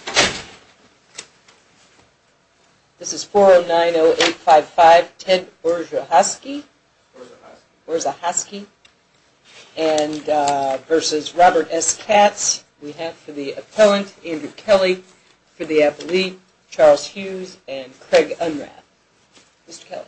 490855 Ted Orzehoskie v. Robert S. Katz Appellant Andrew Kelly Affiliate Charles Hughes Craig Unrath Mr. Kelly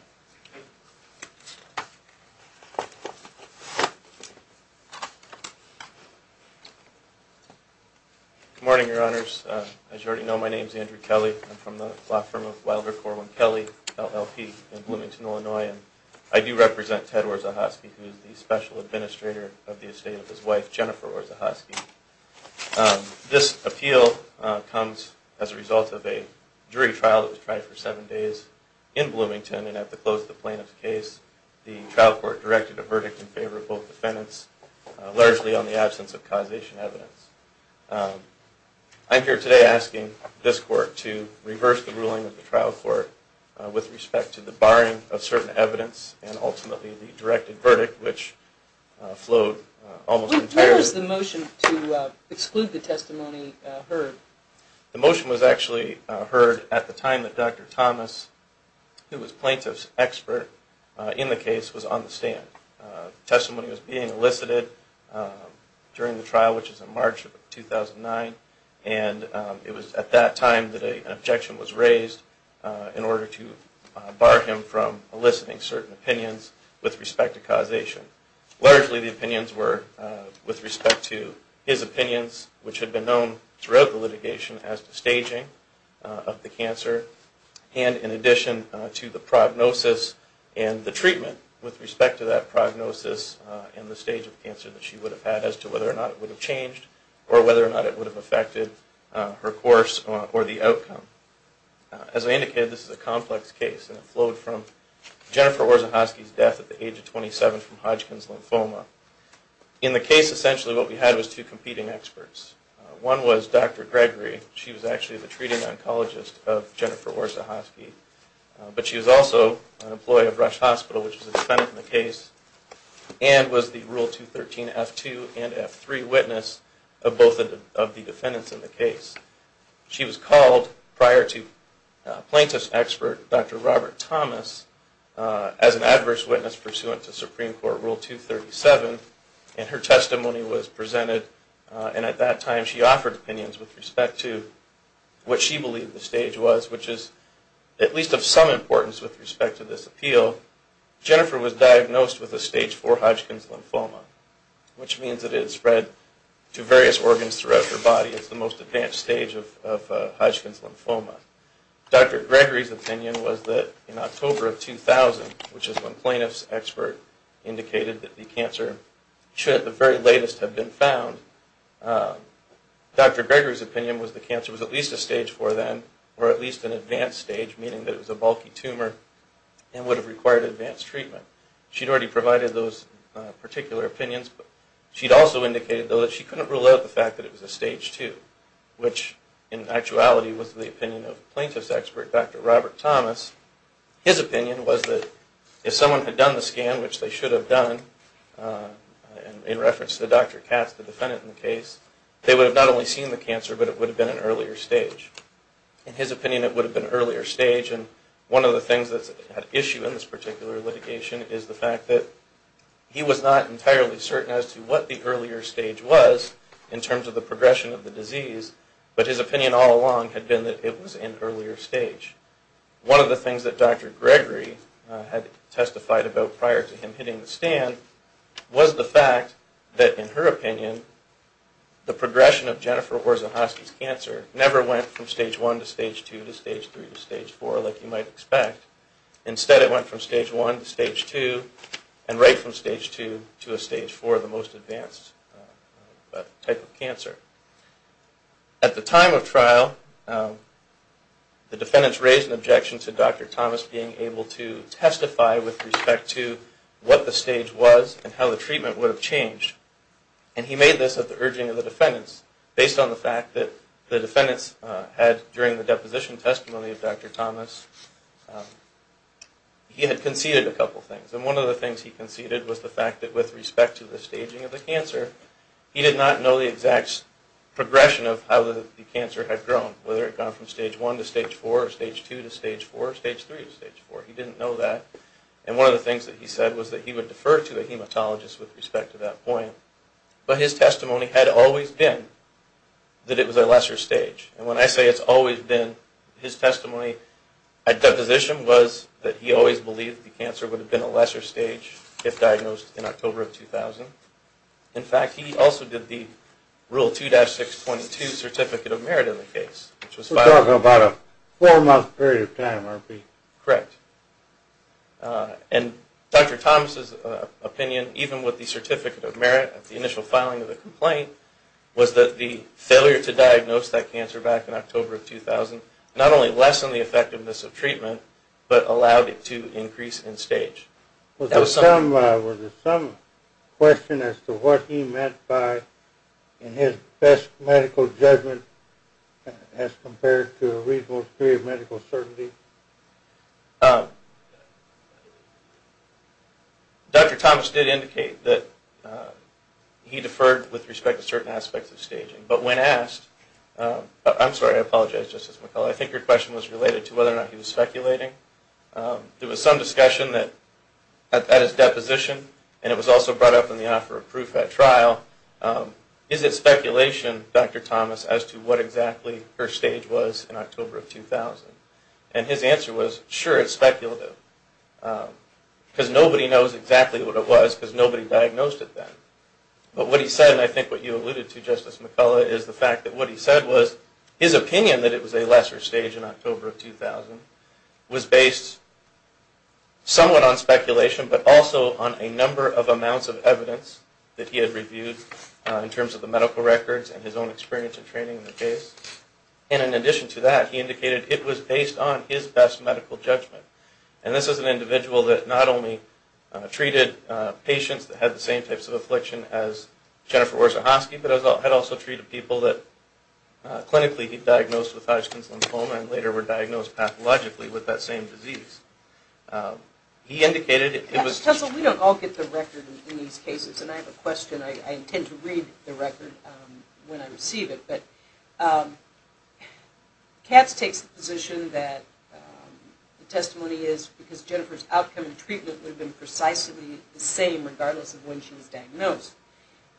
Good morning, your honors. As you already know, my name is Andrew Kelly. I'm from the law firm of Wilder Corwin Kelly, LLP, in Bloomington, Illinois. I do represent Ted Orzehoskie, who is the special administrator of the estate of his wife, Jennifer Orzehoskie. This appeal comes as a result of a jury trial that was tried for seven days in Bloomington, and at the close of the plaintiff's case, the trial court directed a verdict in favor of both defendants, largely on the absence of causation evidence. I'm here today asking this court to reverse the ruling of the trial court with respect to the barring of certain evidence, and ultimately the directed verdict, which flowed almost entirely... When was the motion to exclude the testimony heard? The motion was actually heard at the time that Dr. Thomas, who was plaintiff's expert in the case, was on the stand. The testimony was being elicited during the trial, which was in March of 2009, and it was at that time that an objection was raised in order to bar him from eliciting certain opinions with respect to causation. Largely the opinions were with respect to his opinions, which had been known throughout the litigation as the staging of the cancer, and in addition to the prognosis and the treatment with respect to that prognosis and the stage of cancer that she would have had, as to whether or not it would have changed, or whether or not it would have affected her course or the outcome. As I indicated, this is a complex case, and it flowed from Jennifer Orzechowski's death at the age of 27 from Hodgkin's lymphoma. In the case, essentially what we had was two competing experts. One was Dr. Gregory. She was actually the treating oncologist of Jennifer Orzechowski, but she was also an employee of Rush Hospital, which was a defendant in the case, and was the Rule 213 F2 and F3 witness of both of the defendants in the case. She was called prior to plaintiff's expert, Dr. Robert Thomas, as an adverse witness pursuant to Supreme Court Rule 237, and her testimony was presented, and at that time she offered opinions with respect to what she believed the stage was, which is at least of some importance with respect to this appeal. Jennifer was diagnosed with a stage 4 Hodgkin's lymphoma, which means that it had spread to various organs throughout her body. It's the most advanced stage of Hodgkin's lymphoma. Dr. Gregory's opinion was that in October of 2000, which is when plaintiff's expert indicated that the cancer shouldn't at the very latest have been found, Dr. Gregory's opinion was the cancer was at least a stage 4 then, or at least an advanced stage, meaning that it was a bulky tumor and would have required advanced treatment. She'd already provided those particular opinions, but she'd also indicated though that she couldn't rule out the fact that it was a stage 2, which in actuality was the opinion of plaintiff's expert, Dr. Robert Thomas. His opinion was that if someone had done the scan, which they should have done, in reference to Dr. Katz, the defendant in the case, they would have not only seen the cancer, but it would have been an earlier stage. In his opinion, it would have been an earlier stage, and one of the things that's at issue in this particular litigation is the fact that he was not entirely certain as to what the earlier stage was, in terms of the progression of the disease, but his opinion all along had been that it was an earlier stage. One of the things that Dr. Gregory had testified about prior to him hitting the stand was the fact that, in her opinion, the progression of Jennifer Orzechowski's cancer never went from stage 1 to stage 2 to stage 3 to stage 4 like you might expect. Instead, it went from stage 1 to stage 2 and right from stage 2 to a stage 4, the most advanced type of cancer. At the time of trial, the defendants raised an objection to Dr. Thomas being able to testify with respect to what the stage was and how the treatment would have changed, and he made this at the urging of the defendants, based on the fact that the defendants had, during the deposition testimony of Dr. Thomas, he had conceded a couple of things, and one of the things he conceded was the fact that with respect to the staging of the cancer, he did not know the exact progression of how the cancer had grown, whether it had gone from stage 1 to stage 4 or stage 2 to stage 4 or stage 3 to stage 4. He didn't know that, and one of the things that he said was that he would defer to a hematologist with respect to that point, but his testimony had always been that it was a lesser stage, and when I say it's always been, his testimony at deposition was that he always believed the cancer would have been a lesser stage if diagnosed in October of 2000. In fact, he also did the Rule 2-622 Certificate of Merit in the case. We're talking about a four-month period of time, aren't we? Correct. And Dr. Thomas' opinion, even with the Certificate of Merit at the initial filing of the complaint, was that the failure to diagnose that cancer back in October of 2000 not only lessened the effectiveness of treatment, but allowed it to increase in stage. Was there some question as to what he meant by, in his best medical judgment, as compared to a reasonable period of medical certainty? Dr. Thomas did indicate that he deferred with respect to certain aspects of staging, but when asked, I'm sorry, I apologize, Justice McCullough, I think your question was related to whether or not he was speculating. There was some discussion at his deposition, and it was also brought up in the offer of proof at trial, is it speculation, Dr. Thomas, as to what exactly her stage was in October of 2000? And his answer was, sure, it's speculative, because nobody knows exactly what it was, because nobody diagnosed it then. But what he said, and I think what you alluded to, Justice McCullough, is the fact that what he said was his opinion that it was a lesser stage in October of 2000 was based somewhat on speculation, but also on a number of amounts of evidence that he had reviewed in terms of the medical records and his own experience and training in the case. And in addition to that, he indicated it was based on his best medical judgment. And this is an individual that not only treated patients that had the same types of affliction as Jennifer Warzahowski, but had also treated people that clinically he'd diagnosed with Hodgkin's lymphoma and later were diagnosed pathologically with that same disease. He indicated it was... Justice, we don't all get the record in these cases, and I have a question. I intend to read the record when I receive it. But Katz takes the position that the testimony is because Jennifer's outcome and treatment would have been precisely the same regardless of when she was diagnosed.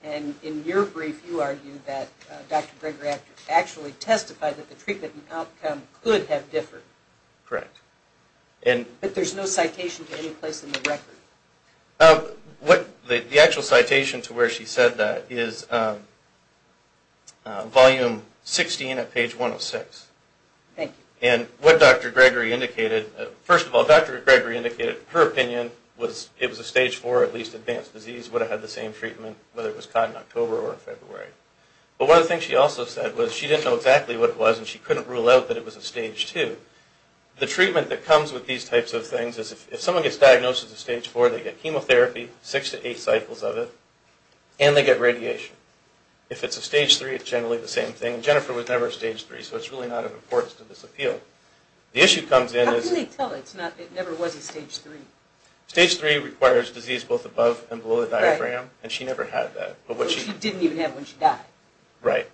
And in your brief, you argued that Dr. Greger actually testified that the treatment and outcome could have differed. Correct. But there's no citation to any place in the record. The actual citation to where she said that is volume 16 at page 106. Thank you. And what Dr. Greger indicated... First of all, Dr. Greger indicated her opinion was it was a stage 4, at least advanced disease, would have had the same treatment whether it was caught in October or February. But one of the things she also said was she didn't know exactly what it was and she couldn't rule out that it was a stage 2. The treatment that comes with these types of things is if someone gets diagnosed as a stage 4, they get chemotherapy, 6 to 8 cycles of it, and they get radiation. If it's a stage 3, it's generally the same thing. Jennifer was never a stage 3, so it's really not of importance to this appeal. How can they tell it never was a stage 3? Stage 3 requires disease both above and below the diaphragm, and she never had that. She didn't even have it when she died. Right.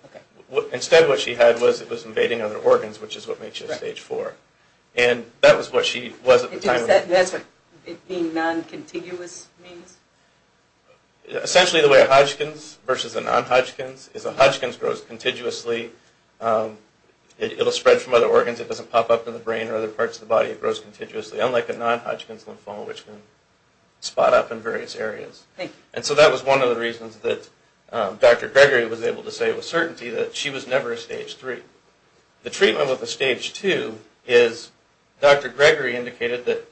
Instead what she had was it was invading other organs, which is what makes you a stage 4. And that was what she was at the time. And that's what being non-contiguous means? Essentially the way a Hodgkin's versus a non-Hodgkin's is a Hodgkin's grows contiguously. It will spread from other organs. It doesn't pop up in the brain or other parts of the body. It grows contiguously, unlike a non-Hodgkin's lymphoma, which can spot up in various areas. Thank you. And so that was one of the reasons that Dr. Gregory was able to say with certainty that she was never a stage 3. The treatment with a stage 2 is, Dr. Gregory indicated that,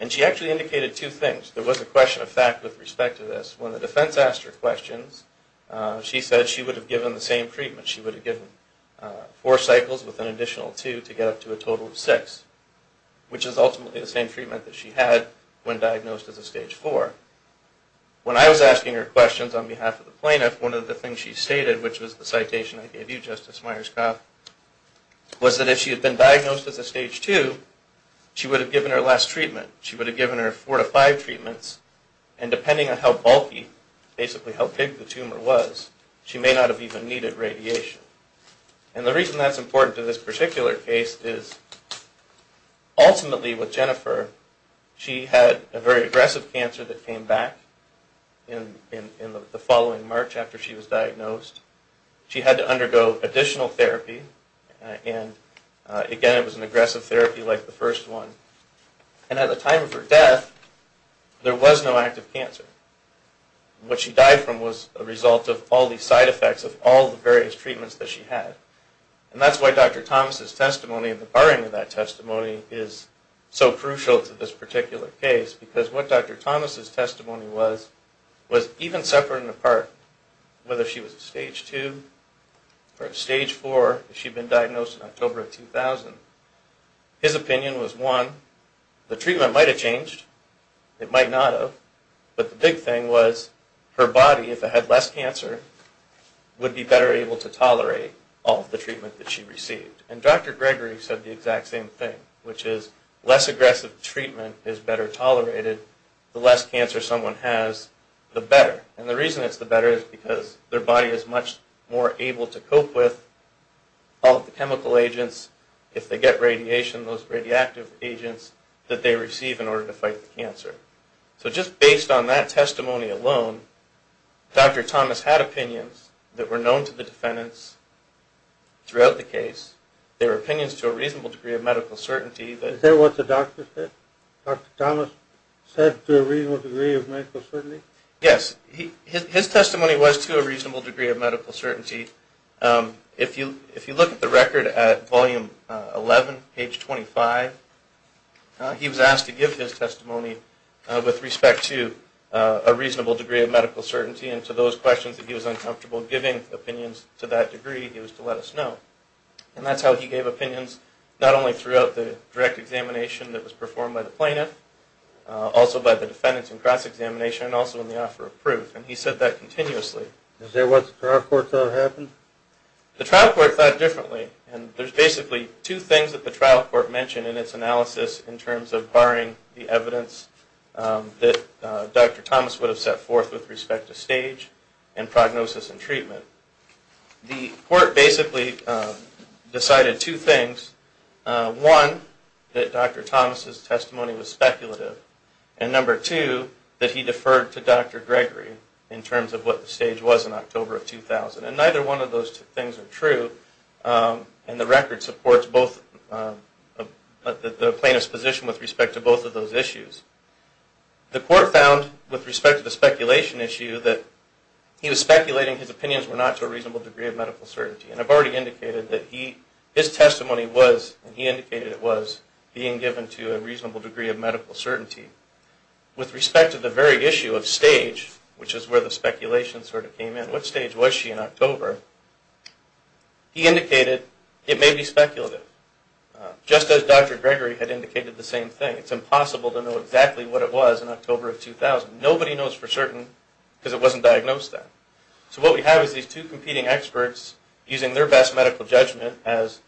and she actually indicated two things. There was a question of fact with respect to this. When the defense asked her questions, she said she would have given the same treatment. She would have given four cycles with an additional two to get up to a total of six, which is ultimately the same treatment that she had when diagnosed as a stage 4. When I was asking her questions on behalf of the plaintiff, one of the things she stated, which was the citation I gave you, Justice Myers-Kopp, was that if she had been diagnosed as a stage 2, she would have given her last treatment. She would have given her four to five treatments, and depending on how bulky, basically how big the tumor was, she may not have even needed radiation. And the reason that's important to this particular case is, ultimately with Jennifer, she had a very aggressive cancer that came back in the following March after she was diagnosed. She had to undergo additional therapy, and again, it was an aggressive therapy like the first one. And at the time of her death, there was no active cancer. What she died from was a result of all these side effects of all the various treatments that she had. And that's why Dr. Thomas' testimony and the barring of that testimony is so crucial to this particular case, because what Dr. Thomas' testimony was, was even separate and apart, whether she was a stage 2 or a stage 4 if she had been diagnosed in October of 2000. His opinion was, one, the treatment might have changed, it might not have, but the big thing was, her body, if it had less cancer, would be better able to tolerate all of the treatment that she received. And Dr. Gregory said the exact same thing, which is, less aggressive treatment is better tolerated, the less cancer someone has, the better. And the reason it's the better is because their body is much more able to cope with all of the chemical agents, if they get radiation, those radioactive agents that they receive in order to fight the cancer. So just based on that testimony alone, Dr. Thomas had opinions that were known to the defendants throughout the case. They were opinions to a reasonable degree of medical certainty. Is that what the doctor said? Dr. Thomas said to a reasonable degree of medical certainty? Yes. His testimony was to a reasonable degree of medical certainty. If you look at the record at Volume 11, page 25, he was asked to give his testimony with respect to a reasonable degree of medical certainty and to those questions that he was uncomfortable giving opinions to that degree, he was to let us know. And that's how he gave opinions, not only throughout the direct examination that was performed by the plaintiff, also by the defendants in cross-examination, and also in the offer of proof, and he said that continuously. Is that what the trial court thought happened? The trial court thought differently, and there's basically two things that the trial court mentioned in its analysis in terms of barring the evidence that Dr. Thomas would have set forth with respect to stage and prognosis and treatment. The court basically decided two things. One, that Dr. Thomas' testimony was speculative, and number two, that he deferred to Dr. Gregory in terms of what the stage was in October of 2000. And neither one of those things are true, and the record supports the plaintiff's position with respect to both of those issues. The court found, with respect to the speculation issue, that he was speculating his opinions were not to a reasonable degree of medical certainty. And I've already indicated that his testimony was, and he indicated it was, being given to a reasonable degree of medical certainty. With respect to the very issue of stage, which is where the speculation sort of came in, what stage was she in October? He indicated it may be speculative, just as Dr. Gregory had indicated the same thing. It's impossible to know exactly what it was in October of 2000. Nobody knows for certain because it wasn't diagnosed then. So what we have is these two competing experts using their best medical judgment as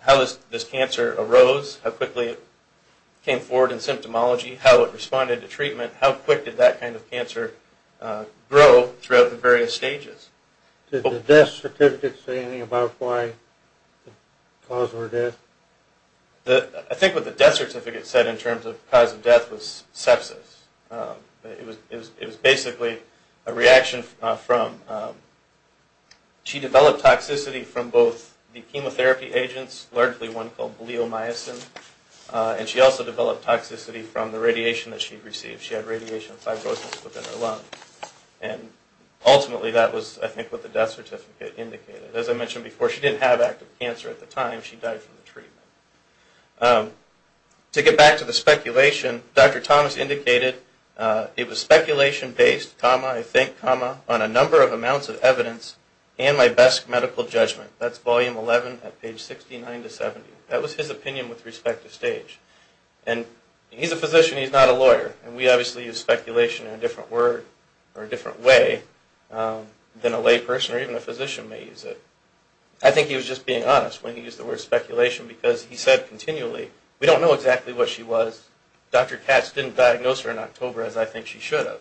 how this cancer arose, how quickly it came forward in symptomology, how it responded to treatment, how quick did that kind of cancer grow throughout the various stages. Did the death certificate say anything about why the cause of her death? I think what the death certificate said in terms of cause of death was sepsis. It was basically a reaction from... She developed toxicity from both the chemotherapy agents, largely one called bleomycin, and she also developed toxicity from the radiation that she received. She had radiation five doses within her lung. And ultimately that was, I think, what the death certificate indicated. As I mentioned before, she didn't have active cancer at the time, she died from the treatment. To get back to the speculation, Dr. Thomas indicated it was speculation-based, comma, I think, comma, on a number of amounts of evidence and my best medical judgment. That's volume 11 at page 69 to 70. That was his opinion with respect to stage. And he's a physician, he's not a lawyer, and we obviously use speculation in a different word or a different way than a layperson or even a physician may use it. I think he was just being honest when he used the word speculation because he said continually, we don't know exactly what she was. Dr. Katz didn't diagnose her in October as I think she should have.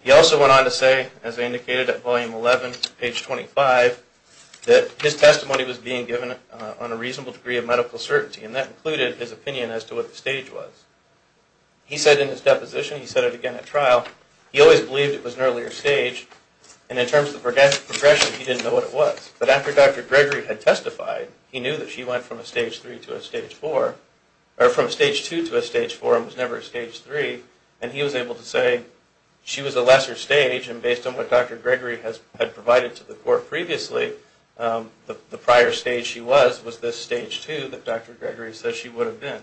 He also went on to say, as I indicated at volume 11, page 25, that his testimony was being given on a reasonable degree of medical certainty and that included his opinion as to what the stage was. He said in his deposition, he said it again at trial, he always believed it was an earlier stage and in terms of progression, he didn't know what it was. But after Dr. Gregory had testified, he knew that she went from a stage 3 to a stage 4, or from a stage 2 to a stage 4 and was never a stage 3, and he was able to say she was a lesser stage and based on what Dr. Gregory had provided to the court previously, the prior stage she was was this stage 2 that Dr. Gregory says she would have been.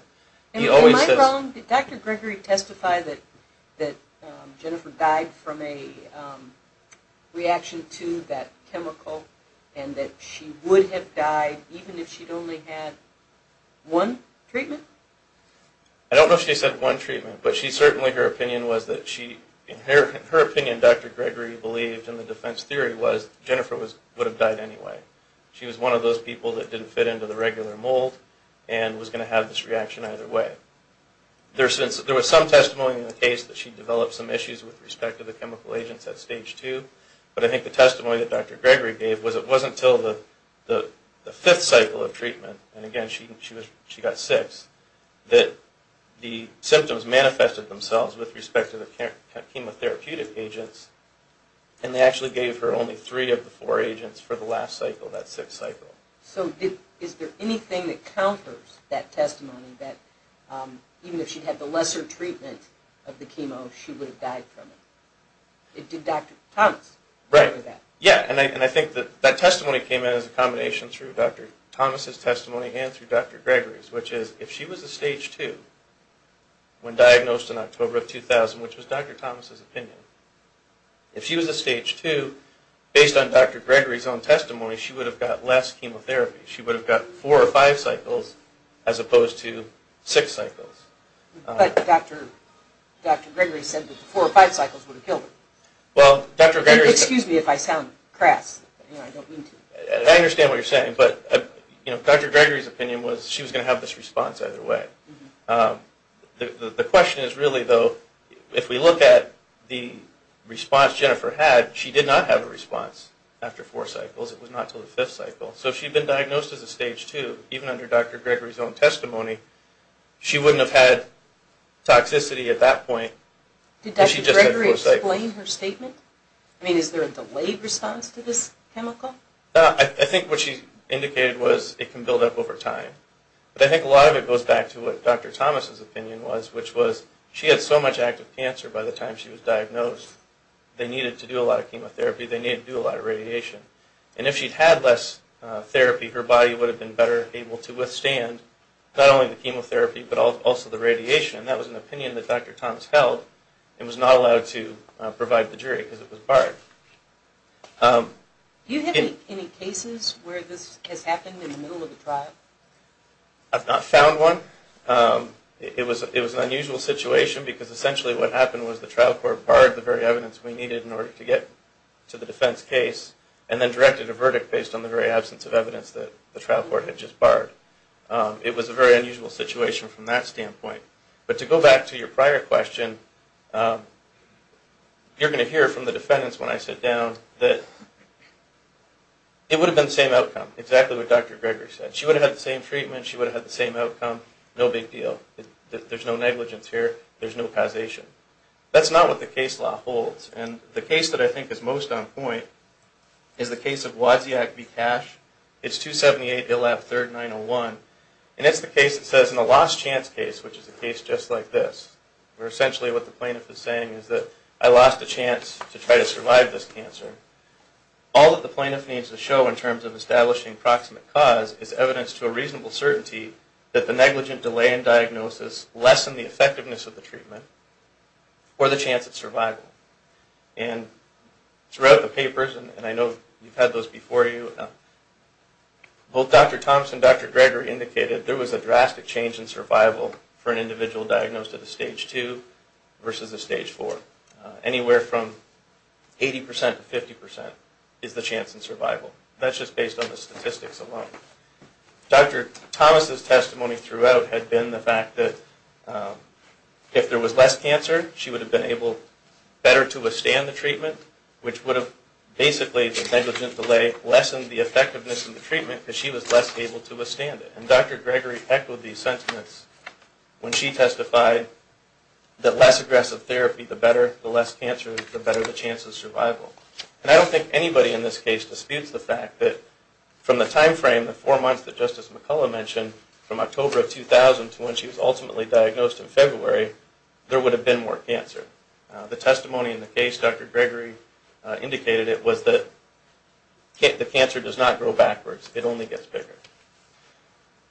Am I wrong? Did Dr. Gregory testify that Jennifer died from a reaction to that chemical and that she would have died even if she'd only had one treatment? I don't know if she said one treatment, but she certainly, her opinion was that she, her opinion Dr. Gregory believed in the defense theory was Jennifer would have died anyway. She was one of those people that didn't fit into the regular mold and was going to have this reaction either way. There was some testimony in the case that she developed some issues with respect to the chemical agents at stage 2, but I think the testimony that Dr. Gregory gave was it wasn't until the 5th cycle of treatment, and again she got 6, that the symptoms manifested themselves with respect to the chemotherapeutic agents and they actually gave her only 3 of the 4 agents for the last cycle, that 6th cycle. So is there anything that counters that testimony that even if she'd had the lesser treatment of the chemo, she would have died from it? Did Dr. Thomas say that? Right, yeah, and I think that that testimony came in as a combination through Dr. Thomas' testimony and through Dr. Gregory's, which is if she was a stage 2 when diagnosed in October of 2000, which was Dr. Thomas' opinion, if she was a stage 2, based on Dr. Gregory's own testimony, she would have got less chemotherapy. She would have got 4 or 5 cycles as opposed to 6 cycles. But Dr. Gregory said that the 4 or 5 cycles would have killed her. Well, Dr. Gregory... Excuse me if I sound crass, but I don't mean to. I understand what you're saying, but Dr. Gregory's opinion was she was going to have this response either way. The question is really though, if we look at the response Jennifer had, she did not have a response after 4 cycles. It was not until the 5th cycle. So if she had been diagnosed as a stage 2, even under Dr. Gregory's own testimony, she wouldn't have had toxicity at that point. Did Dr. Gregory explain her statement? I mean, is there a delayed response to this chemical? I think what she indicated was it can build up over time. But I think a lot of it goes back to what Dr. Thomas' opinion was, which was she had so much active cancer by the time she was diagnosed, they needed to do a lot of chemotherapy, they needed to do a lot of radiation. And if she'd had less therapy, her body would have been better able to withstand not only the chemotherapy, but also the radiation. And that was an opinion that Dr. Thomas held and was not allowed to provide the jury because it was barred. Do you have any cases where this has happened in the middle of the trial? I've not found one. It was an unusual situation because essentially what happened was the trial court barred the very evidence we needed in order to get to the defense case and then directed a verdict based on the very absence of evidence that the trial court had just barred. It was a very unusual situation from that standpoint. But to go back to your prior question, you're going to hear from the defendants when I sit down that it would have been the same outcome, exactly what Dr. Gregory said. She would have had the same treatment, she would have had the same outcome, no big deal. There's no negligence here, there's no causation. That's not what the case law holds. And the case that I think is most on point is the case of Waziak v. Cash. It's 278 Illab III, 901. And it's the case that says in a lost chance case, which is a case just like this, where essentially what the plaintiff is saying is that I lost a chance to try to survive this cancer. All that the plaintiff needs to show in terms of establishing proximate cause is evidence to a reasonable certainty that the negligent delay in diagnosis lessened the effectiveness of the treatment or the chance of survival. And throughout the papers, and I know you've had those before you, both Dr. Thompson and Dr. Gregory indicated there was a drastic change in survival for an individual diagnosed at a stage 2 versus a stage 4. Anywhere from 80% to 50% is the chance in survival. That's just based on the statistics alone. Dr. Thomas' testimony throughout had been the fact that if there was less cancer, she would have been able better to withstand the treatment, which would have basically the negligent delay lessened the effectiveness of the treatment because she was less able to withstand it. And Dr. Gregory echoed these sentiments when she testified that less aggressive therapy, the better, the less cancer, the better the chance of survival. And I don't think anybody in this case disputes the fact that from the timeframe, the four months that Justice McCullough mentioned, from October of 2000 to when she was ultimately diagnosed in February, there would have been more cancer. The testimony in the case, Dr. Gregory indicated it, was that the cancer does not grow backwards. It only gets bigger.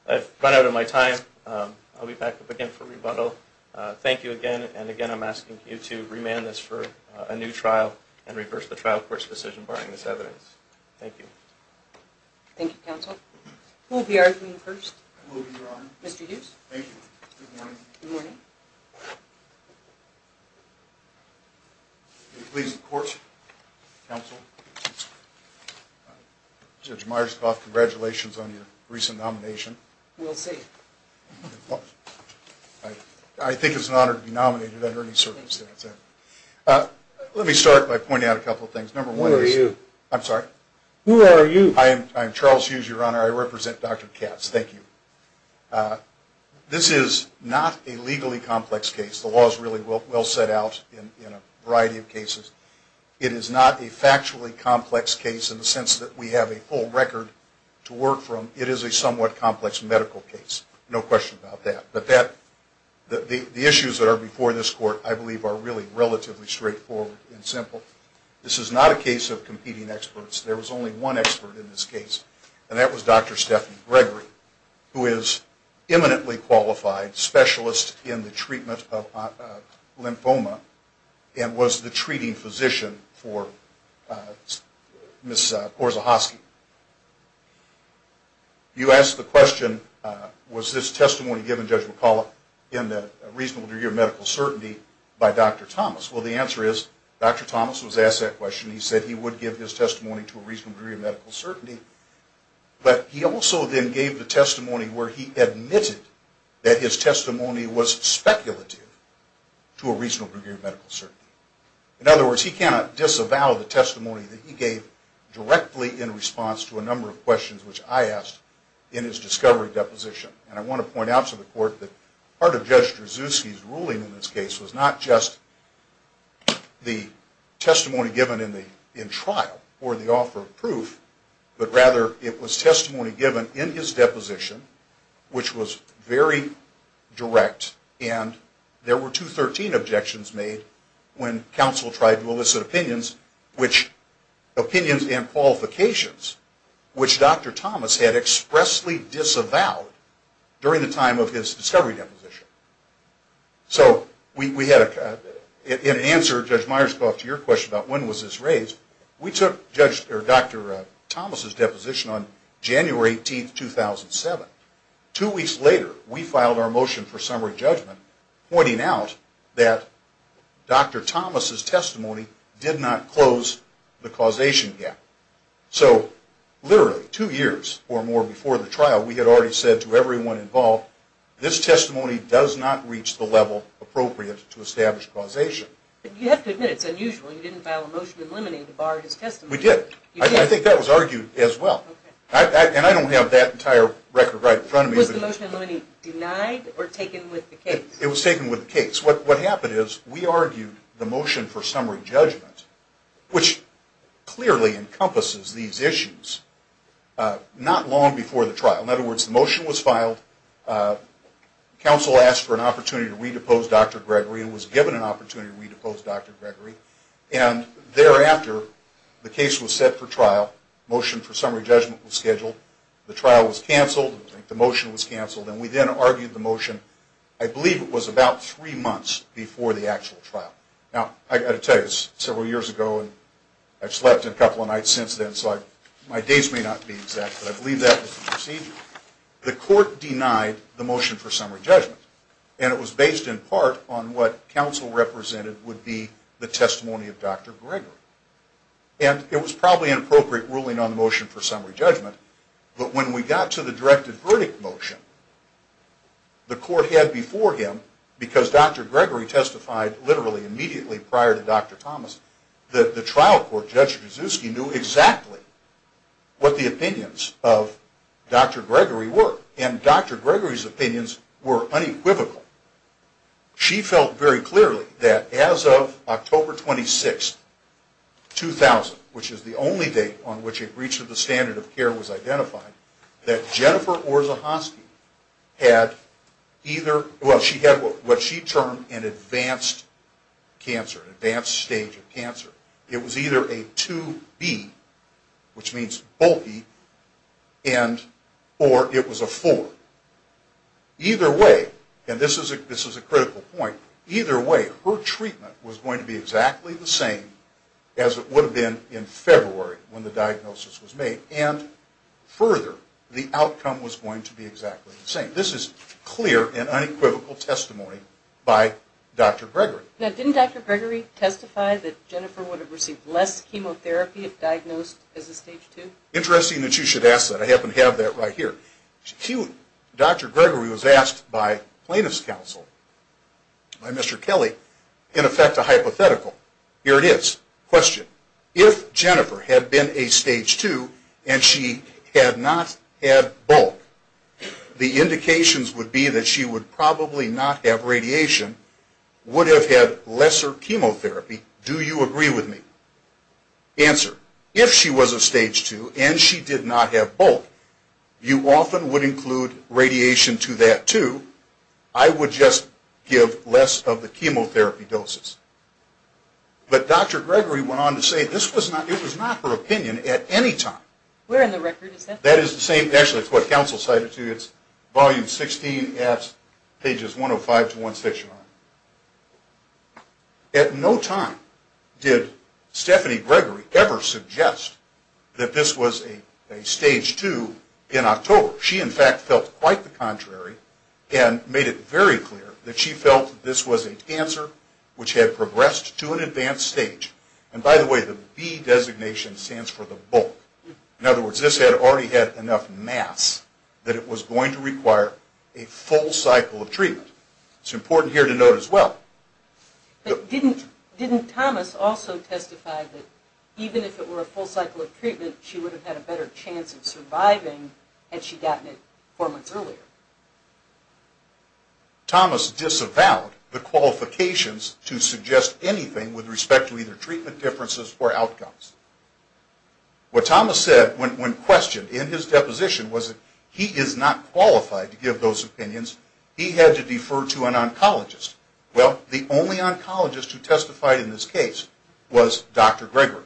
I've run out of my time. I'll be back up again for rebuttal. Thank you again. And again, I'm asking you to remand this for a new trial and reverse the trial court's decision barring this evidence. Thank you. Thank you, counsel. Who will be arguing first? Mr. Hughes. Thank you. Good morning. Good morning. Please report, counsel. Judge Myerscough, congratulations on your recent nomination. We'll see. I think it's an honor to be nominated under any circumstance. Let me start by pointing out a couple of things. Who are you? I'm sorry? Who are you? I am Charles Hughes, Your Honor. I represent Dr. Katz. Thank you. This is not a legally complex case. The law is really well set out in a variety of cases. It is not a factually complex case in the sense that we have a full record to work from. It is a somewhat complex medical case, no question about that. But the issues that are before this court, I believe, are really relatively straightforward and simple. This is not a case of competing experts. There was only one expert in this case, and that was Dr. Stephanie Gregory, who is an eminently qualified specialist in the treatment of lymphoma and was the treating physician for Ms. Korzahowski. You asked the question, was this testimony given, Judge McCullough, in the reasonable degree of medical certainty by Dr. Thomas? Well, the answer is Dr. Thomas was asked that question. He said he would give his testimony to a reasonable degree of medical certainty. But he also then gave the testimony where he admitted that his testimony was speculative to a reasonable degree of medical certainty. In other words, he cannot disavow the testimony that he gave directly in response to a number of questions which I asked in his discovery deposition. And I want to point out to the court that part of Judge Drzewski's ruling in this case was not just the testimony given in trial or the offer of proof, but rather it was testimony given in his deposition, which was very direct. And there were 213 objections made when counsel tried to elicit opinions and qualifications which Dr. Thomas had expressly disavowed during the time of his discovery deposition. So in answer to Judge Myers' question about when was this raised, we took Dr. Thomas' deposition on January 18, 2007. Two weeks later, we filed our motion for summary judgment, pointing out that Dr. Thomas' testimony did not close the causation gap. So literally two years or more before the trial, we had already said to everyone involved, this testimony does not reach the level appropriate to establish causation. You have to admit it's unusual you didn't file a motion in limine to bar his testimony. We did. I think that was argued as well. And I don't have that entire record right in front of me. Was the motion in limine denied or taken with the case? It was taken with the case. What happened is we argued the motion for summary judgment, which clearly encompasses these issues, not long before the trial. In other words, the motion was filed, counsel asked for an opportunity to re-depose Dr. Gregory and was given an opportunity to re-depose Dr. Gregory, and thereafter the case was set for trial, motion for summary judgment was scheduled, the trial was canceled, the motion was canceled, and we then argued the motion, I believe it was about three months before the actual trial. Now, I've got to tell you, it was several years ago, and I've slept in a couple of nights since then, so my dates may not be exact, but I believe that was the procedure. The court denied the motion for summary judgment, and it was based in part on what counsel represented would be the testimony of Dr. Gregory. And it was probably an appropriate ruling on the motion for summary judgment, but when we got to the directed verdict motion, the court had before him, because Dr. Gregory testified literally immediately prior to Dr. Thomas, that the trial court, Judge Kaczewski, knew exactly what the opinions of Dr. Gregory were, and Dr. Gregory's opinions were unequivocal. She felt very clearly that as of October 26, 2000, which is the only date on which a breach of the standard of care was identified, that Jennifer Orzechowski had either, well, she had what she termed an advanced cancer, an advanced stage of cancer. It was either a 2B, which means bulky, or it was a 4. Either way, and this is a critical point, either way her treatment was going to be exactly the same as it would have been in February when the diagnosis was made, and further, the outcome was going to be exactly the same. This is clear and unequivocal testimony by Dr. Gregory. Now didn't Dr. Gregory testify that Jennifer would have received less chemotherapy if diagnosed as a stage 2? Interesting that you should ask that. I happen to have that right here. Dr. Gregory was asked by plaintiff's counsel, by Mr. Kelly, in effect a hypothetical. Here it is. Question. If Jennifer had been a stage 2 and she had not had bulk, the indications would be that she would probably not have radiation, would have had lesser chemotherapy. Do you agree with me? Answer. If she was a stage 2 and she did not have bulk, you often would include radiation to that too. I would just give less of the chemotherapy doses. But Dr. Gregory went on to say this was not her opinion at any time. Where in the record is that? That is the same, actually it's what counsel cited to you. It's volume 16 at pages 105 to 169. At no time did Stephanie Gregory ever suggest that this was a stage 2 in October. She in fact felt quite the contrary and made it very clear that she felt this was a cancer which had progressed to an advanced stage. And by the way, the B designation stands for the bulk. In other words, this had already had enough mass that it was going to require a full cycle of treatment. It's important here to note as well. But didn't Thomas also testify that even if it were a full cycle of treatment, she would have had a better chance of surviving had she gotten it four months earlier? Thomas disavowed the qualifications to suggest anything with respect to either treatment differences or outcomes. What Thomas said when questioned in his deposition was that he is not qualified to give those opinions. He had to defer to an oncologist. Well, the only oncologist who testified in this case was Dr. Gregory.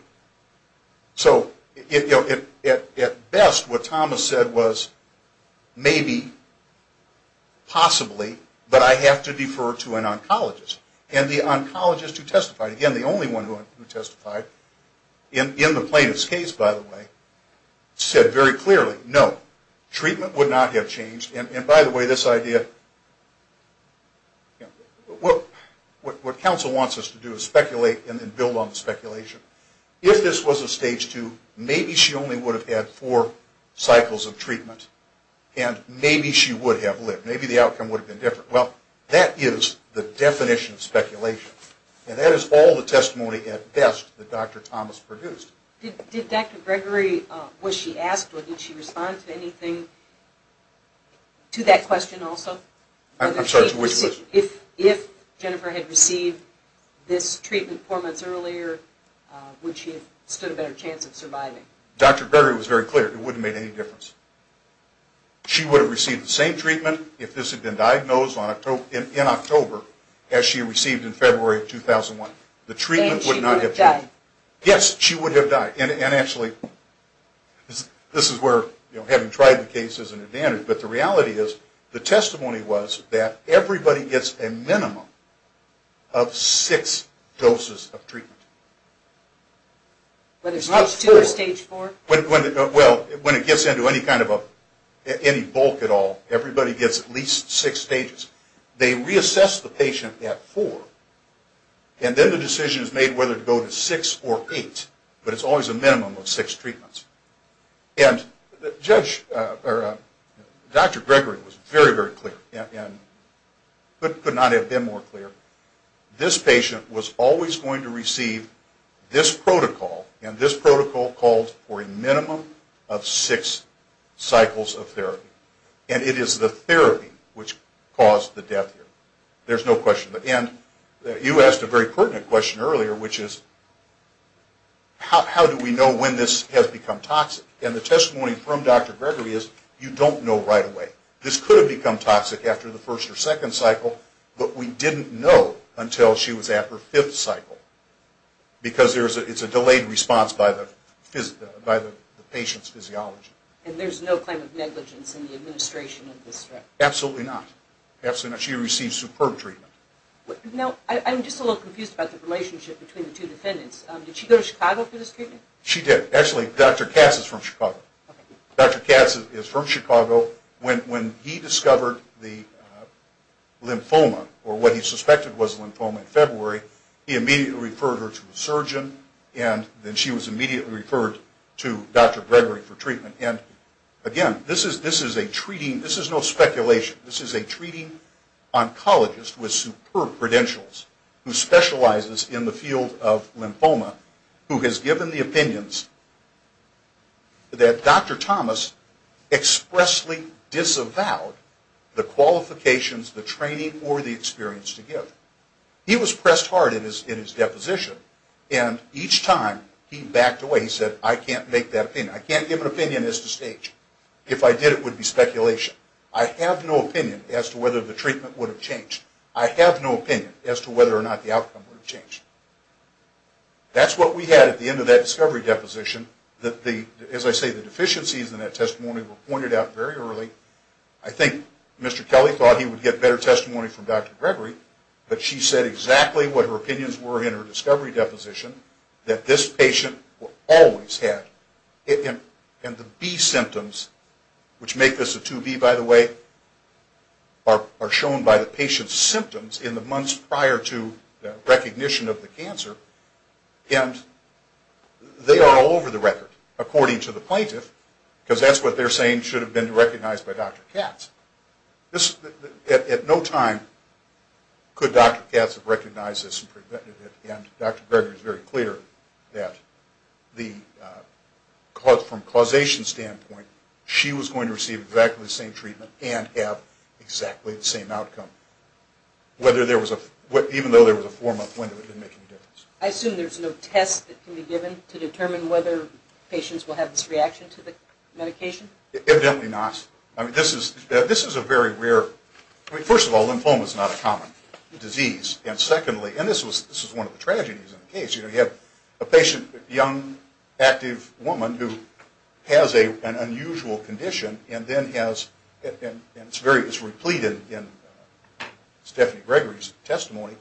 So at best what Thomas said was maybe, possibly, but I have to defer to an oncologist. And the oncologist who testified, again the only one who testified in the plaintiff's case by the way, said very clearly no, treatment would not have changed. And by the way, this idea, what counsel wants us to do is speculate and then build on the speculation. If this was a stage two, maybe she only would have had four cycles of treatment. And maybe she would have lived. Maybe the outcome would have been different. Well, that is the definition of speculation. And that is all the testimony at best that Dr. Thomas produced. Did Dr. Gregory, was she asked or did she respond to anything, to that question also? I'm sorry, to which question? If Jennifer had received this treatment four months earlier, would she have stood a better chance of surviving? Dr. Gregory was very clear. It wouldn't have made any difference. She would have received the same treatment if this had been diagnosed in October as she received in February of 2001. The treatment would not have changed. And she would have died. Yes, she would have died. And actually, this is where having tried the case is an advantage, but the reality is the testimony was that everybody gets a minimum of six doses of treatment. Whether it's stage two or stage four? Well, when it gets into any kind of a, any bulk at all, everybody gets at least six stages. They reassess the patient at four, and then the decision is made whether to go to six or eight. But it's always a minimum of six treatments. And Dr. Gregory was very, very clear and could not have been more clear. This patient was always going to receive this protocol, and this protocol called for a minimum of six cycles of therapy. And it is the therapy which caused the death here. There's no question. And you asked a very pertinent question earlier, which is how do we know when this has become toxic? And the testimony from Dr. Gregory is you don't know right away. This could have become toxic after the first or second cycle, but we didn't know until she was at her fifth cycle because it's a delayed response by the patient's physiology. And there's no claim of negligence in the administration of this threat? Absolutely not. Absolutely not. She received superb treatment. Now, I'm just a little confused about the relationship between the two defendants. Did she go to Chicago for this treatment? She did. Actually, Dr. Cass is from Chicago. Dr. Cass is from Chicago. When he discovered the lymphoma or what he suspected was a lymphoma in February, he immediately referred her to a surgeon, and then she was immediately referred to Dr. Gregory for treatment. And, again, this is a treating. This is no speculation. This is a treating oncologist with superb credentials who specializes in the field of lymphoma who has given the opinions that Dr. Thomas expressly disavowed the qualifications, the training, or the experience to give. He was pressed hard in his deposition, and each time he backed away. He said, I can't make that opinion. I can't give an opinion as to stage. If I did, it would be speculation. I have no opinion as to whether the treatment would have changed. I have no opinion as to whether or not the outcome would have changed. That's what we had at the end of that discovery deposition. As I say, the deficiencies in that testimony were pointed out very early. I think Mr. Kelly thought he would get better testimony from Dr. Gregory, but she said exactly what her opinions were in her discovery deposition, that this patient will always have it. And the B symptoms, which make this a 2B, by the way, are shown by the patient's symptoms in the months prior to recognition of the cancer, and they are all over the record, according to the plaintiff, because that's what they're saying should have been recognized by Dr. Katz. At no time could Dr. Katz have recognized this and prevented it, and Dr. Gregory is very clear that from a causation standpoint, she was going to receive exactly the same treatment and have exactly the same outcome, even though there was a 4-month window that didn't make any difference. I assume there's no test that can be given to determine whether patients will have this reaction to the medication? Evidently not. First of all, lymphoma is not a common disease, and secondly, and this was one of the tragedies in the case, you have a patient, a young, active woman who has an unusual condition, and it's replete in Stephanie Gregory's testimony,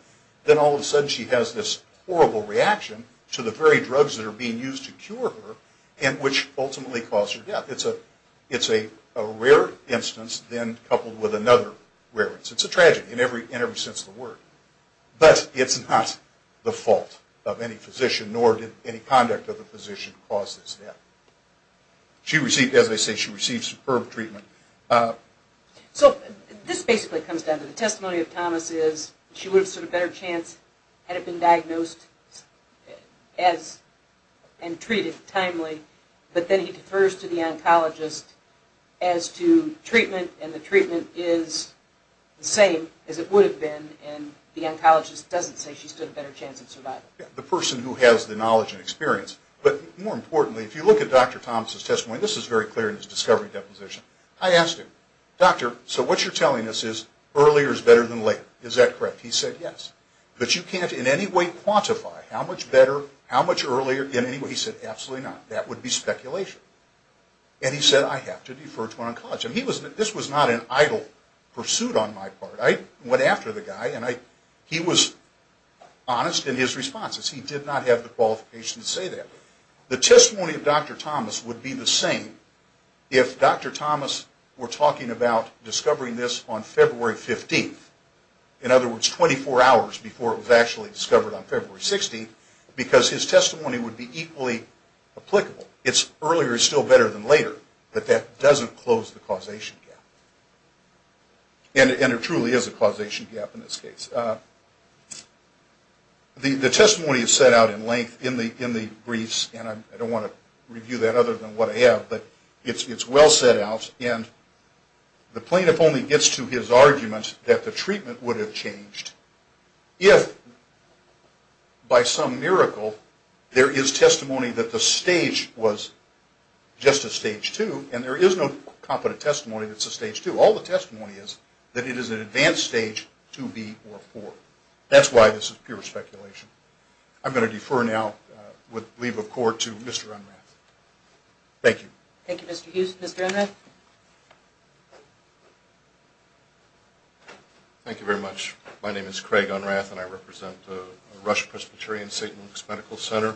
then all of a sudden she has this horrible reaction to the very drugs that are being used to cure her, and which ultimately caused her death. It's a rare instance, then coupled with another rare instance. It's a tragedy in every sense of the word, but it's not the fault of any physician, nor did any conduct of the physician cause this death. She received, as I say, she received superb treatment. So this basically comes down to the testimony of Thomas is she would have stood a better chance had it been diagnosed and treated timely, but then he defers to the oncologist as to treatment, and the treatment is the same as it would have been, and the oncologist doesn't say she stood a better chance of survival. The person who has the knowledge and experience. But more importantly, if you look at Dr. Thomas' testimony, this is very clear in his discovery deposition. I asked him, Doctor, so what you're telling us is earlier is better than later. Is that correct? He said, yes. But you can't in any way quantify how much better, how much earlier in any way. He said, absolutely not. That would be speculation. And he said, I have to defer to an oncologist. This was not an idle pursuit on my part. I went after the guy, and he was honest in his responses. He did not have the qualifications to say that. The testimony of Dr. Thomas would be the same if Dr. Thomas were talking about discovering this on February 15th. In other words, 24 hours before it was actually discovered on February 16th, because his testimony would be equally applicable. It's earlier is still better than later, but that doesn't close the causation gap. And it truly is a causation gap in this case. The testimony is set out in length in the briefs, and I don't want to review that other than what I have, but it's well set out. And the plaintiff only gets to his argument that the treatment would have changed if by some miracle there is testimony that the stage was just a stage 2, and there is no competent testimony that's a stage 2. All the testimony is that it is an advanced stage 2B or 4. That's why this is pure speculation. I'm going to defer now with leave of court to Mr. Unrath. Thank you. Thank you, Mr. Hughes. Mr. Unrath. Thank you very much. My name is Craig Unrath, and I represent the Russia Presbyterian St. Luke's Medical Center.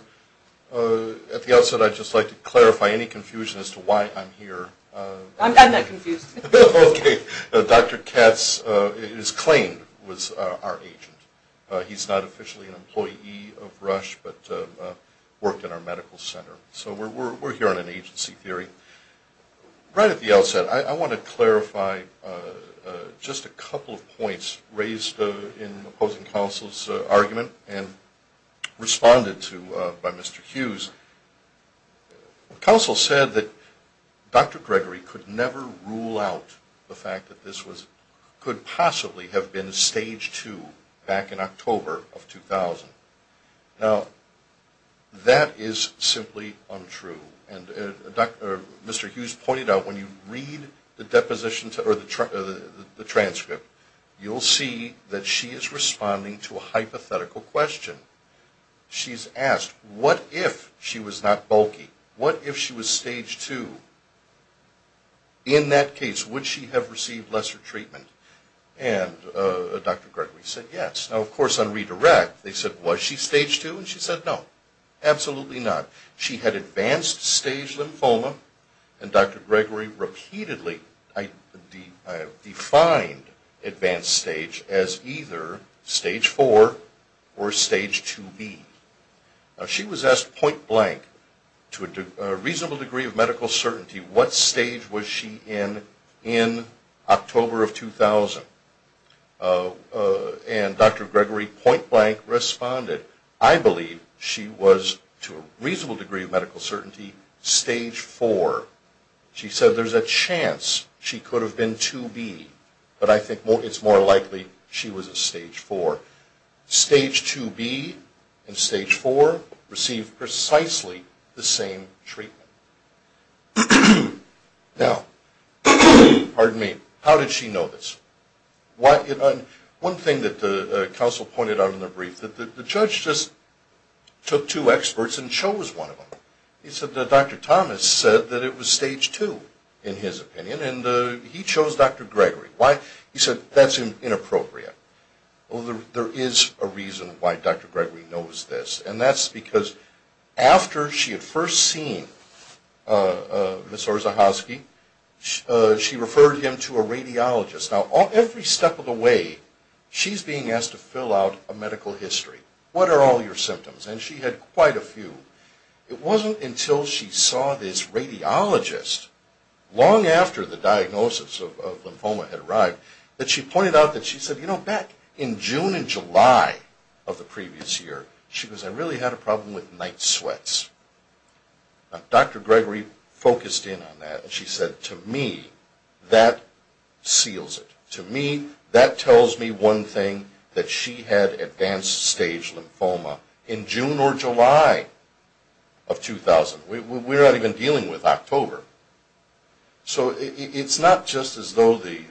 At the outset, I'd just like to clarify any confusion as to why I'm here. I'm not confused. Okay. Dr. Katz is claimed was our agent. He's not officially an employee of Rush but worked in our medical center. So we're here on an agency theory. Right at the outset, I want to clarify just a couple of points raised in opposing counsel's argument and responded to by Mr. Hughes. Counsel said that Dr. Gregory could never rule out the fact that this could possibly have been stage 2 back in October of 2000. Now, that is simply untrue. And Mr. Hughes pointed out when you read the deposition or the transcript, you'll see that she is responding to a hypothetical question. She's asked, what if she was not bulky? What if she was stage 2? In that case, would she have received lesser treatment? And Dr. Gregory said, yes. Now, of course, on redirect, they said, was she stage 2? And she said, no, absolutely not. She had advanced stage lymphoma. And Dr. Gregory repeatedly defined advanced stage as either stage 4 or stage 2B. Now, she was asked point blank, to a reasonable degree of medical certainty, what stage was she in in October of 2000? And Dr. Gregory point blank responded, I believe she was, to a reasonable degree of medical certainty, stage 4. She said there's a chance she could have been 2B. But I think it's more likely she was a stage 4. Stage 2B and stage 4 received precisely the same treatment. Now, pardon me, how did she know this? One thing that the counsel pointed out in the brief, that the judge just took two experts and chose one of them. He said that Dr. Thomas said that it was stage 2, in his opinion, and he chose Dr. Gregory. Why? He said that's inappropriate. Well, there is a reason why Dr. Gregory knows this. And that's because after she had first seen Ms. Orzechowski, she referred him to a radiologist. Now, every step of the way, she's being asked to fill out a medical history. What are all your symptoms? And she had quite a few. It wasn't until she saw this radiologist, long after the diagnosis of lymphoma had arrived, that she pointed out that she said, you know, back in June and July of the previous year, she goes, I really had a problem with night sweats. Now, Dr. Gregory focused in on that, and she said, to me, that seals it. To me, that tells me one thing, that she had advanced stage lymphoma in June or July of 2000. We're not even dealing with October. So it's not just as though the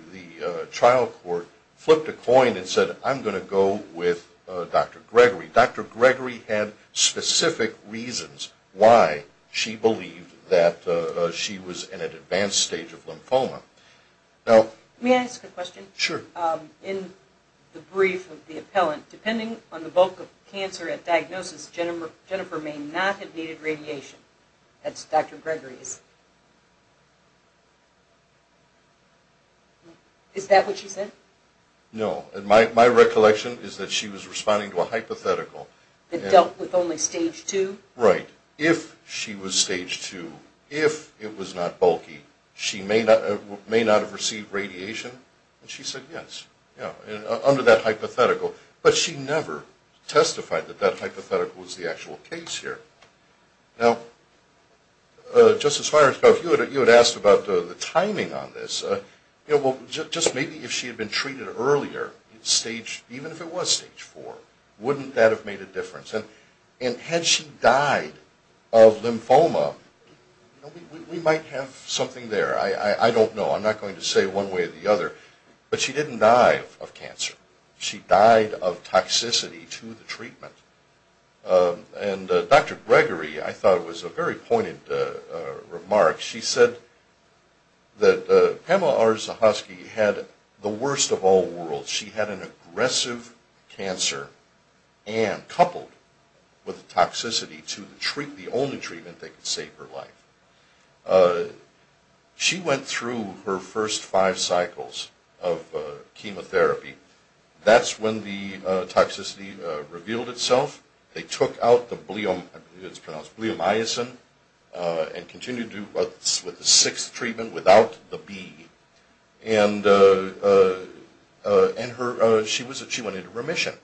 trial court flipped a coin and said, I'm going to go with Dr. Gregory. Dr. Gregory had specific reasons why she believed that she was in an advanced stage of lymphoma. May I ask a question? Sure. In the brief of the appellant, depending on the bulk of cancer at diagnosis, Jennifer may not have needed radiation. That's Dr. Gregory's. Is that what she said? No. My recollection is that she was responding to a hypothetical. That dealt with only stage two? Right. If she was stage two, if it was not bulky, she may not have received radiation. And she said yes, under that hypothetical. But she never testified that that hypothetical was the actual case here. Now, Justice Myers, you had asked about the timing on this. Just maybe if she had been treated earlier, even if it was stage four, wouldn't that have made a difference? And had she died of lymphoma, we might have something there. I don't know. I'm not going to say one way or the other. But she didn't die of cancer. She died of toxicity to the treatment. And Dr. Gregory, I thought it was a very pointed remark. She said that Pamela R. Zahosky had the worst of all worlds. She had an aggressive cancer and coupled with toxicity to the only treatment that could save her life. She went through her first five cycles of chemotherapy. That's when the toxicity revealed itself. They took out the bleomycin and continued with the sixth treatment without the B. And she went into remission.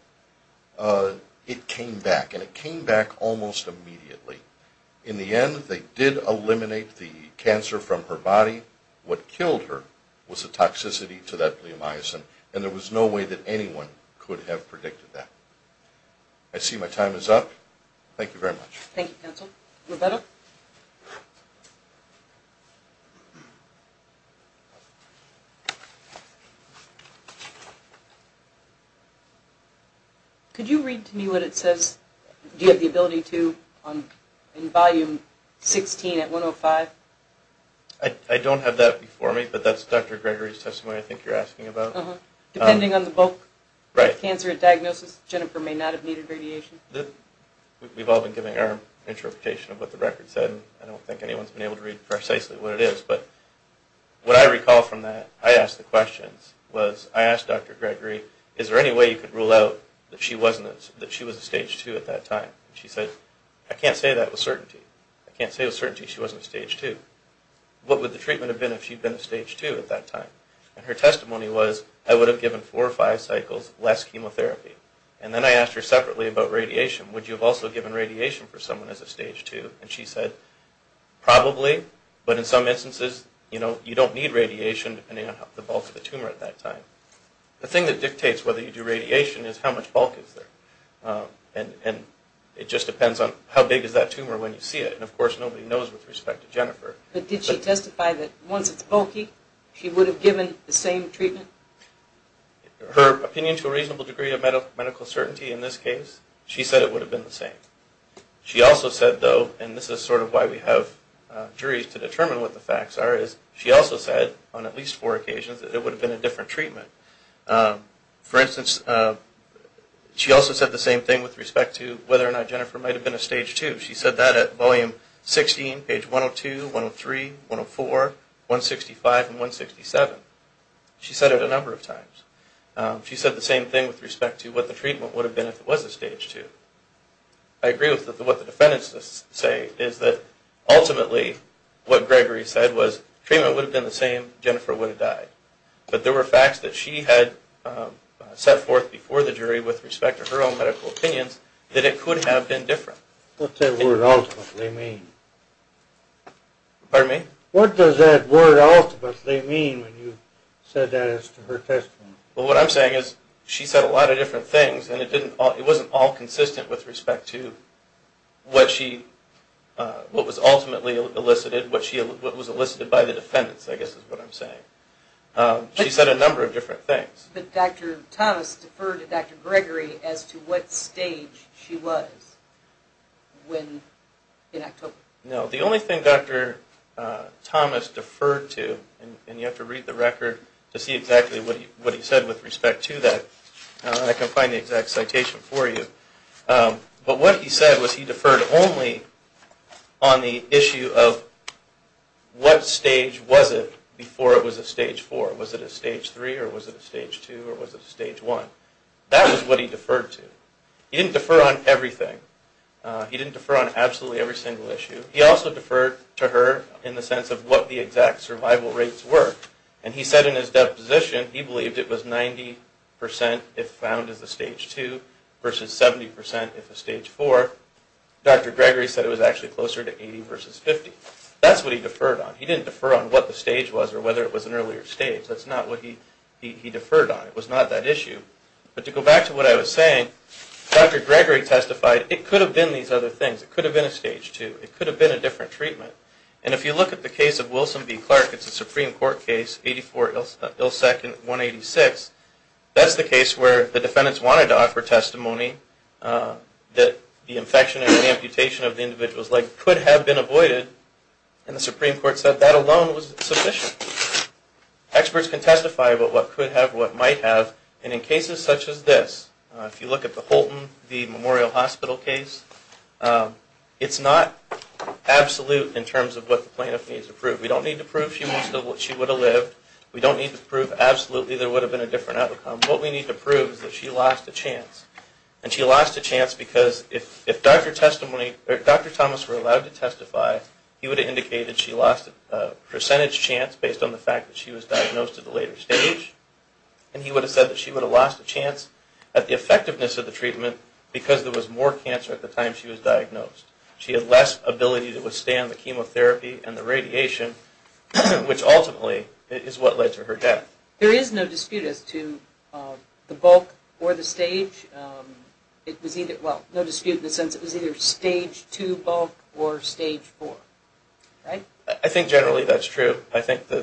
It came back. And it came back almost immediately. In the end, they did eliminate the cancer from her body. What killed her was the toxicity to that bleomycin. And there was no way that anyone could have predicted that. I see my time is up. Thank you very much. Thank you, counsel. Roberta? Could you read to me what it says? Do you have the ability to in volume 16 at 105? I don't have that before me, but that's Dr. Gregory's testimony I think you're asking about. Depending on the bulk cancer diagnosis, Jennifer may not have needed radiation. We've all been giving our interpretation of what the record said. I don't think anyone's been able to read precisely what it is. But what I recall from that, I asked the questions, was I asked Dr. Gregory, is there any way you could rule out that she was a stage 2 at that time? She said, I can't say that with certainty. I can't say with certainty she wasn't a stage 2. What would the treatment have been if she'd been a stage 2 at that time? And her testimony was, I would have given four or five cycles less chemotherapy. And then I asked her separately about radiation. Would you have also given radiation for someone as a stage 2? And she said, probably, but in some instances, you don't need radiation, depending on the bulk of the tumor at that time. The thing that dictates whether you do radiation is how much bulk is there. And it just depends on how big is that tumor when you see it. And, of course, nobody knows with respect to Jennifer. But did she testify that once it's bulky, she would have given the same treatment? Her opinion to a reasonable degree of medical certainty in this case, she said it would have been the same. She also said, though, and this is sort of why we have juries to determine what the facts are, is she also said on at least four occasions that it would have been a different treatment. For instance, she also said the same thing with respect to whether or not Jennifer might have been a stage 2. She said that at volume 16, page 102, 103, 104, 165, and 167. She said it a number of times. She said the same thing with respect to what the treatment would have been if it was a stage 2. I agree with what the defendants say is that ultimately what Gregory said was treatment would have been the same, Jennifer would have died. But there were facts that she had set forth before the jury with respect to her own medical opinions that it could have been different. What does that word ultimately mean? Pardon me? What does that word ultimately mean when you said that as to her testimony? Well, what I'm saying is she said a lot of different things, and it wasn't all consistent with respect to what was ultimately elicited, what was elicited by the defendants, I guess is what I'm saying. She said a number of different things. But Dr. Thomas deferred to Dr. Gregory as to what stage she was in October. No, the only thing Dr. Thomas deferred to, and you have to read the record to see exactly what he said with respect to that. I can find the exact citation for you. But what he said was he deferred only on the issue of what stage was it before it was a stage 4. Was it a stage 3 or was it a stage 2 or was it a stage 1? That was what he deferred to. He didn't defer on everything. He didn't defer on absolutely every single issue. He also deferred to her in the sense of what the exact survival rates were. And he said in his deposition he believed it was 90% if found as a stage 2 versus 70% if a stage 4. Dr. Gregory said it was actually closer to 80 versus 50. That's what he deferred on. He didn't defer on what the stage was or whether it was an earlier stage. That's not what he deferred on. It was not that issue. But to go back to what I was saying, Dr. Gregory testified it could have been these other things. It could have been a stage 2. It could have been a different treatment. And if you look at the case of Wilson v. Clark, it's a Supreme Court case, 84 Ilsec and 186. That's the case where the defendants wanted to offer testimony that the infection and the amputation of the individual's leg could have been avoided. And the Supreme Court said that alone was sufficient. Experts can testify about what could have, what might have. And in cases such as this, if you look at the Holton v. Memorial Hospital case, it's not absolute in terms of what the plaintiff needs to prove. We don't need to prove she would have lived. We don't need to prove absolutely there would have been a different outcome. What we need to prove is that she lost a chance. And she lost a chance because if Dr. Thomas were allowed to testify, he would have indicated she lost a percentage chance based on the fact that she was diagnosed at a later stage. And he would have said that she would have lost a chance at the effectiveness of the treatment because there was more cancer at the time she was diagnosed. She had less ability to withstand the chemotherapy and the radiation, which ultimately is what led to her death. There is no dispute as to the bulk or the stage. It was either, well, no dispute in the sense it was either stage 2 bulk or stage 4, right? I think generally that's true. I think the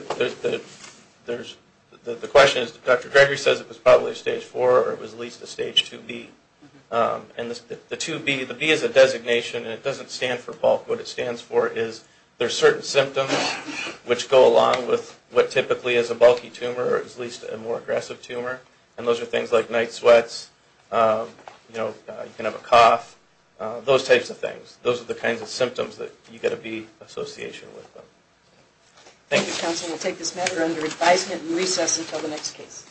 question is Dr. Gregory says it was probably stage 4 or it was at least a stage 2B. And the 2B, the B is a designation and it doesn't stand for bulk. What it stands for is there are certain symptoms which go along with what typically is a bulky tumor or at least a more aggressive tumor. And those are things like night sweats, you know, you can have a cough, those types of things. Those are the kinds of symptoms that you get a B association with. Thank you, counsel. We'll take this matter under advisement and recess until the next case.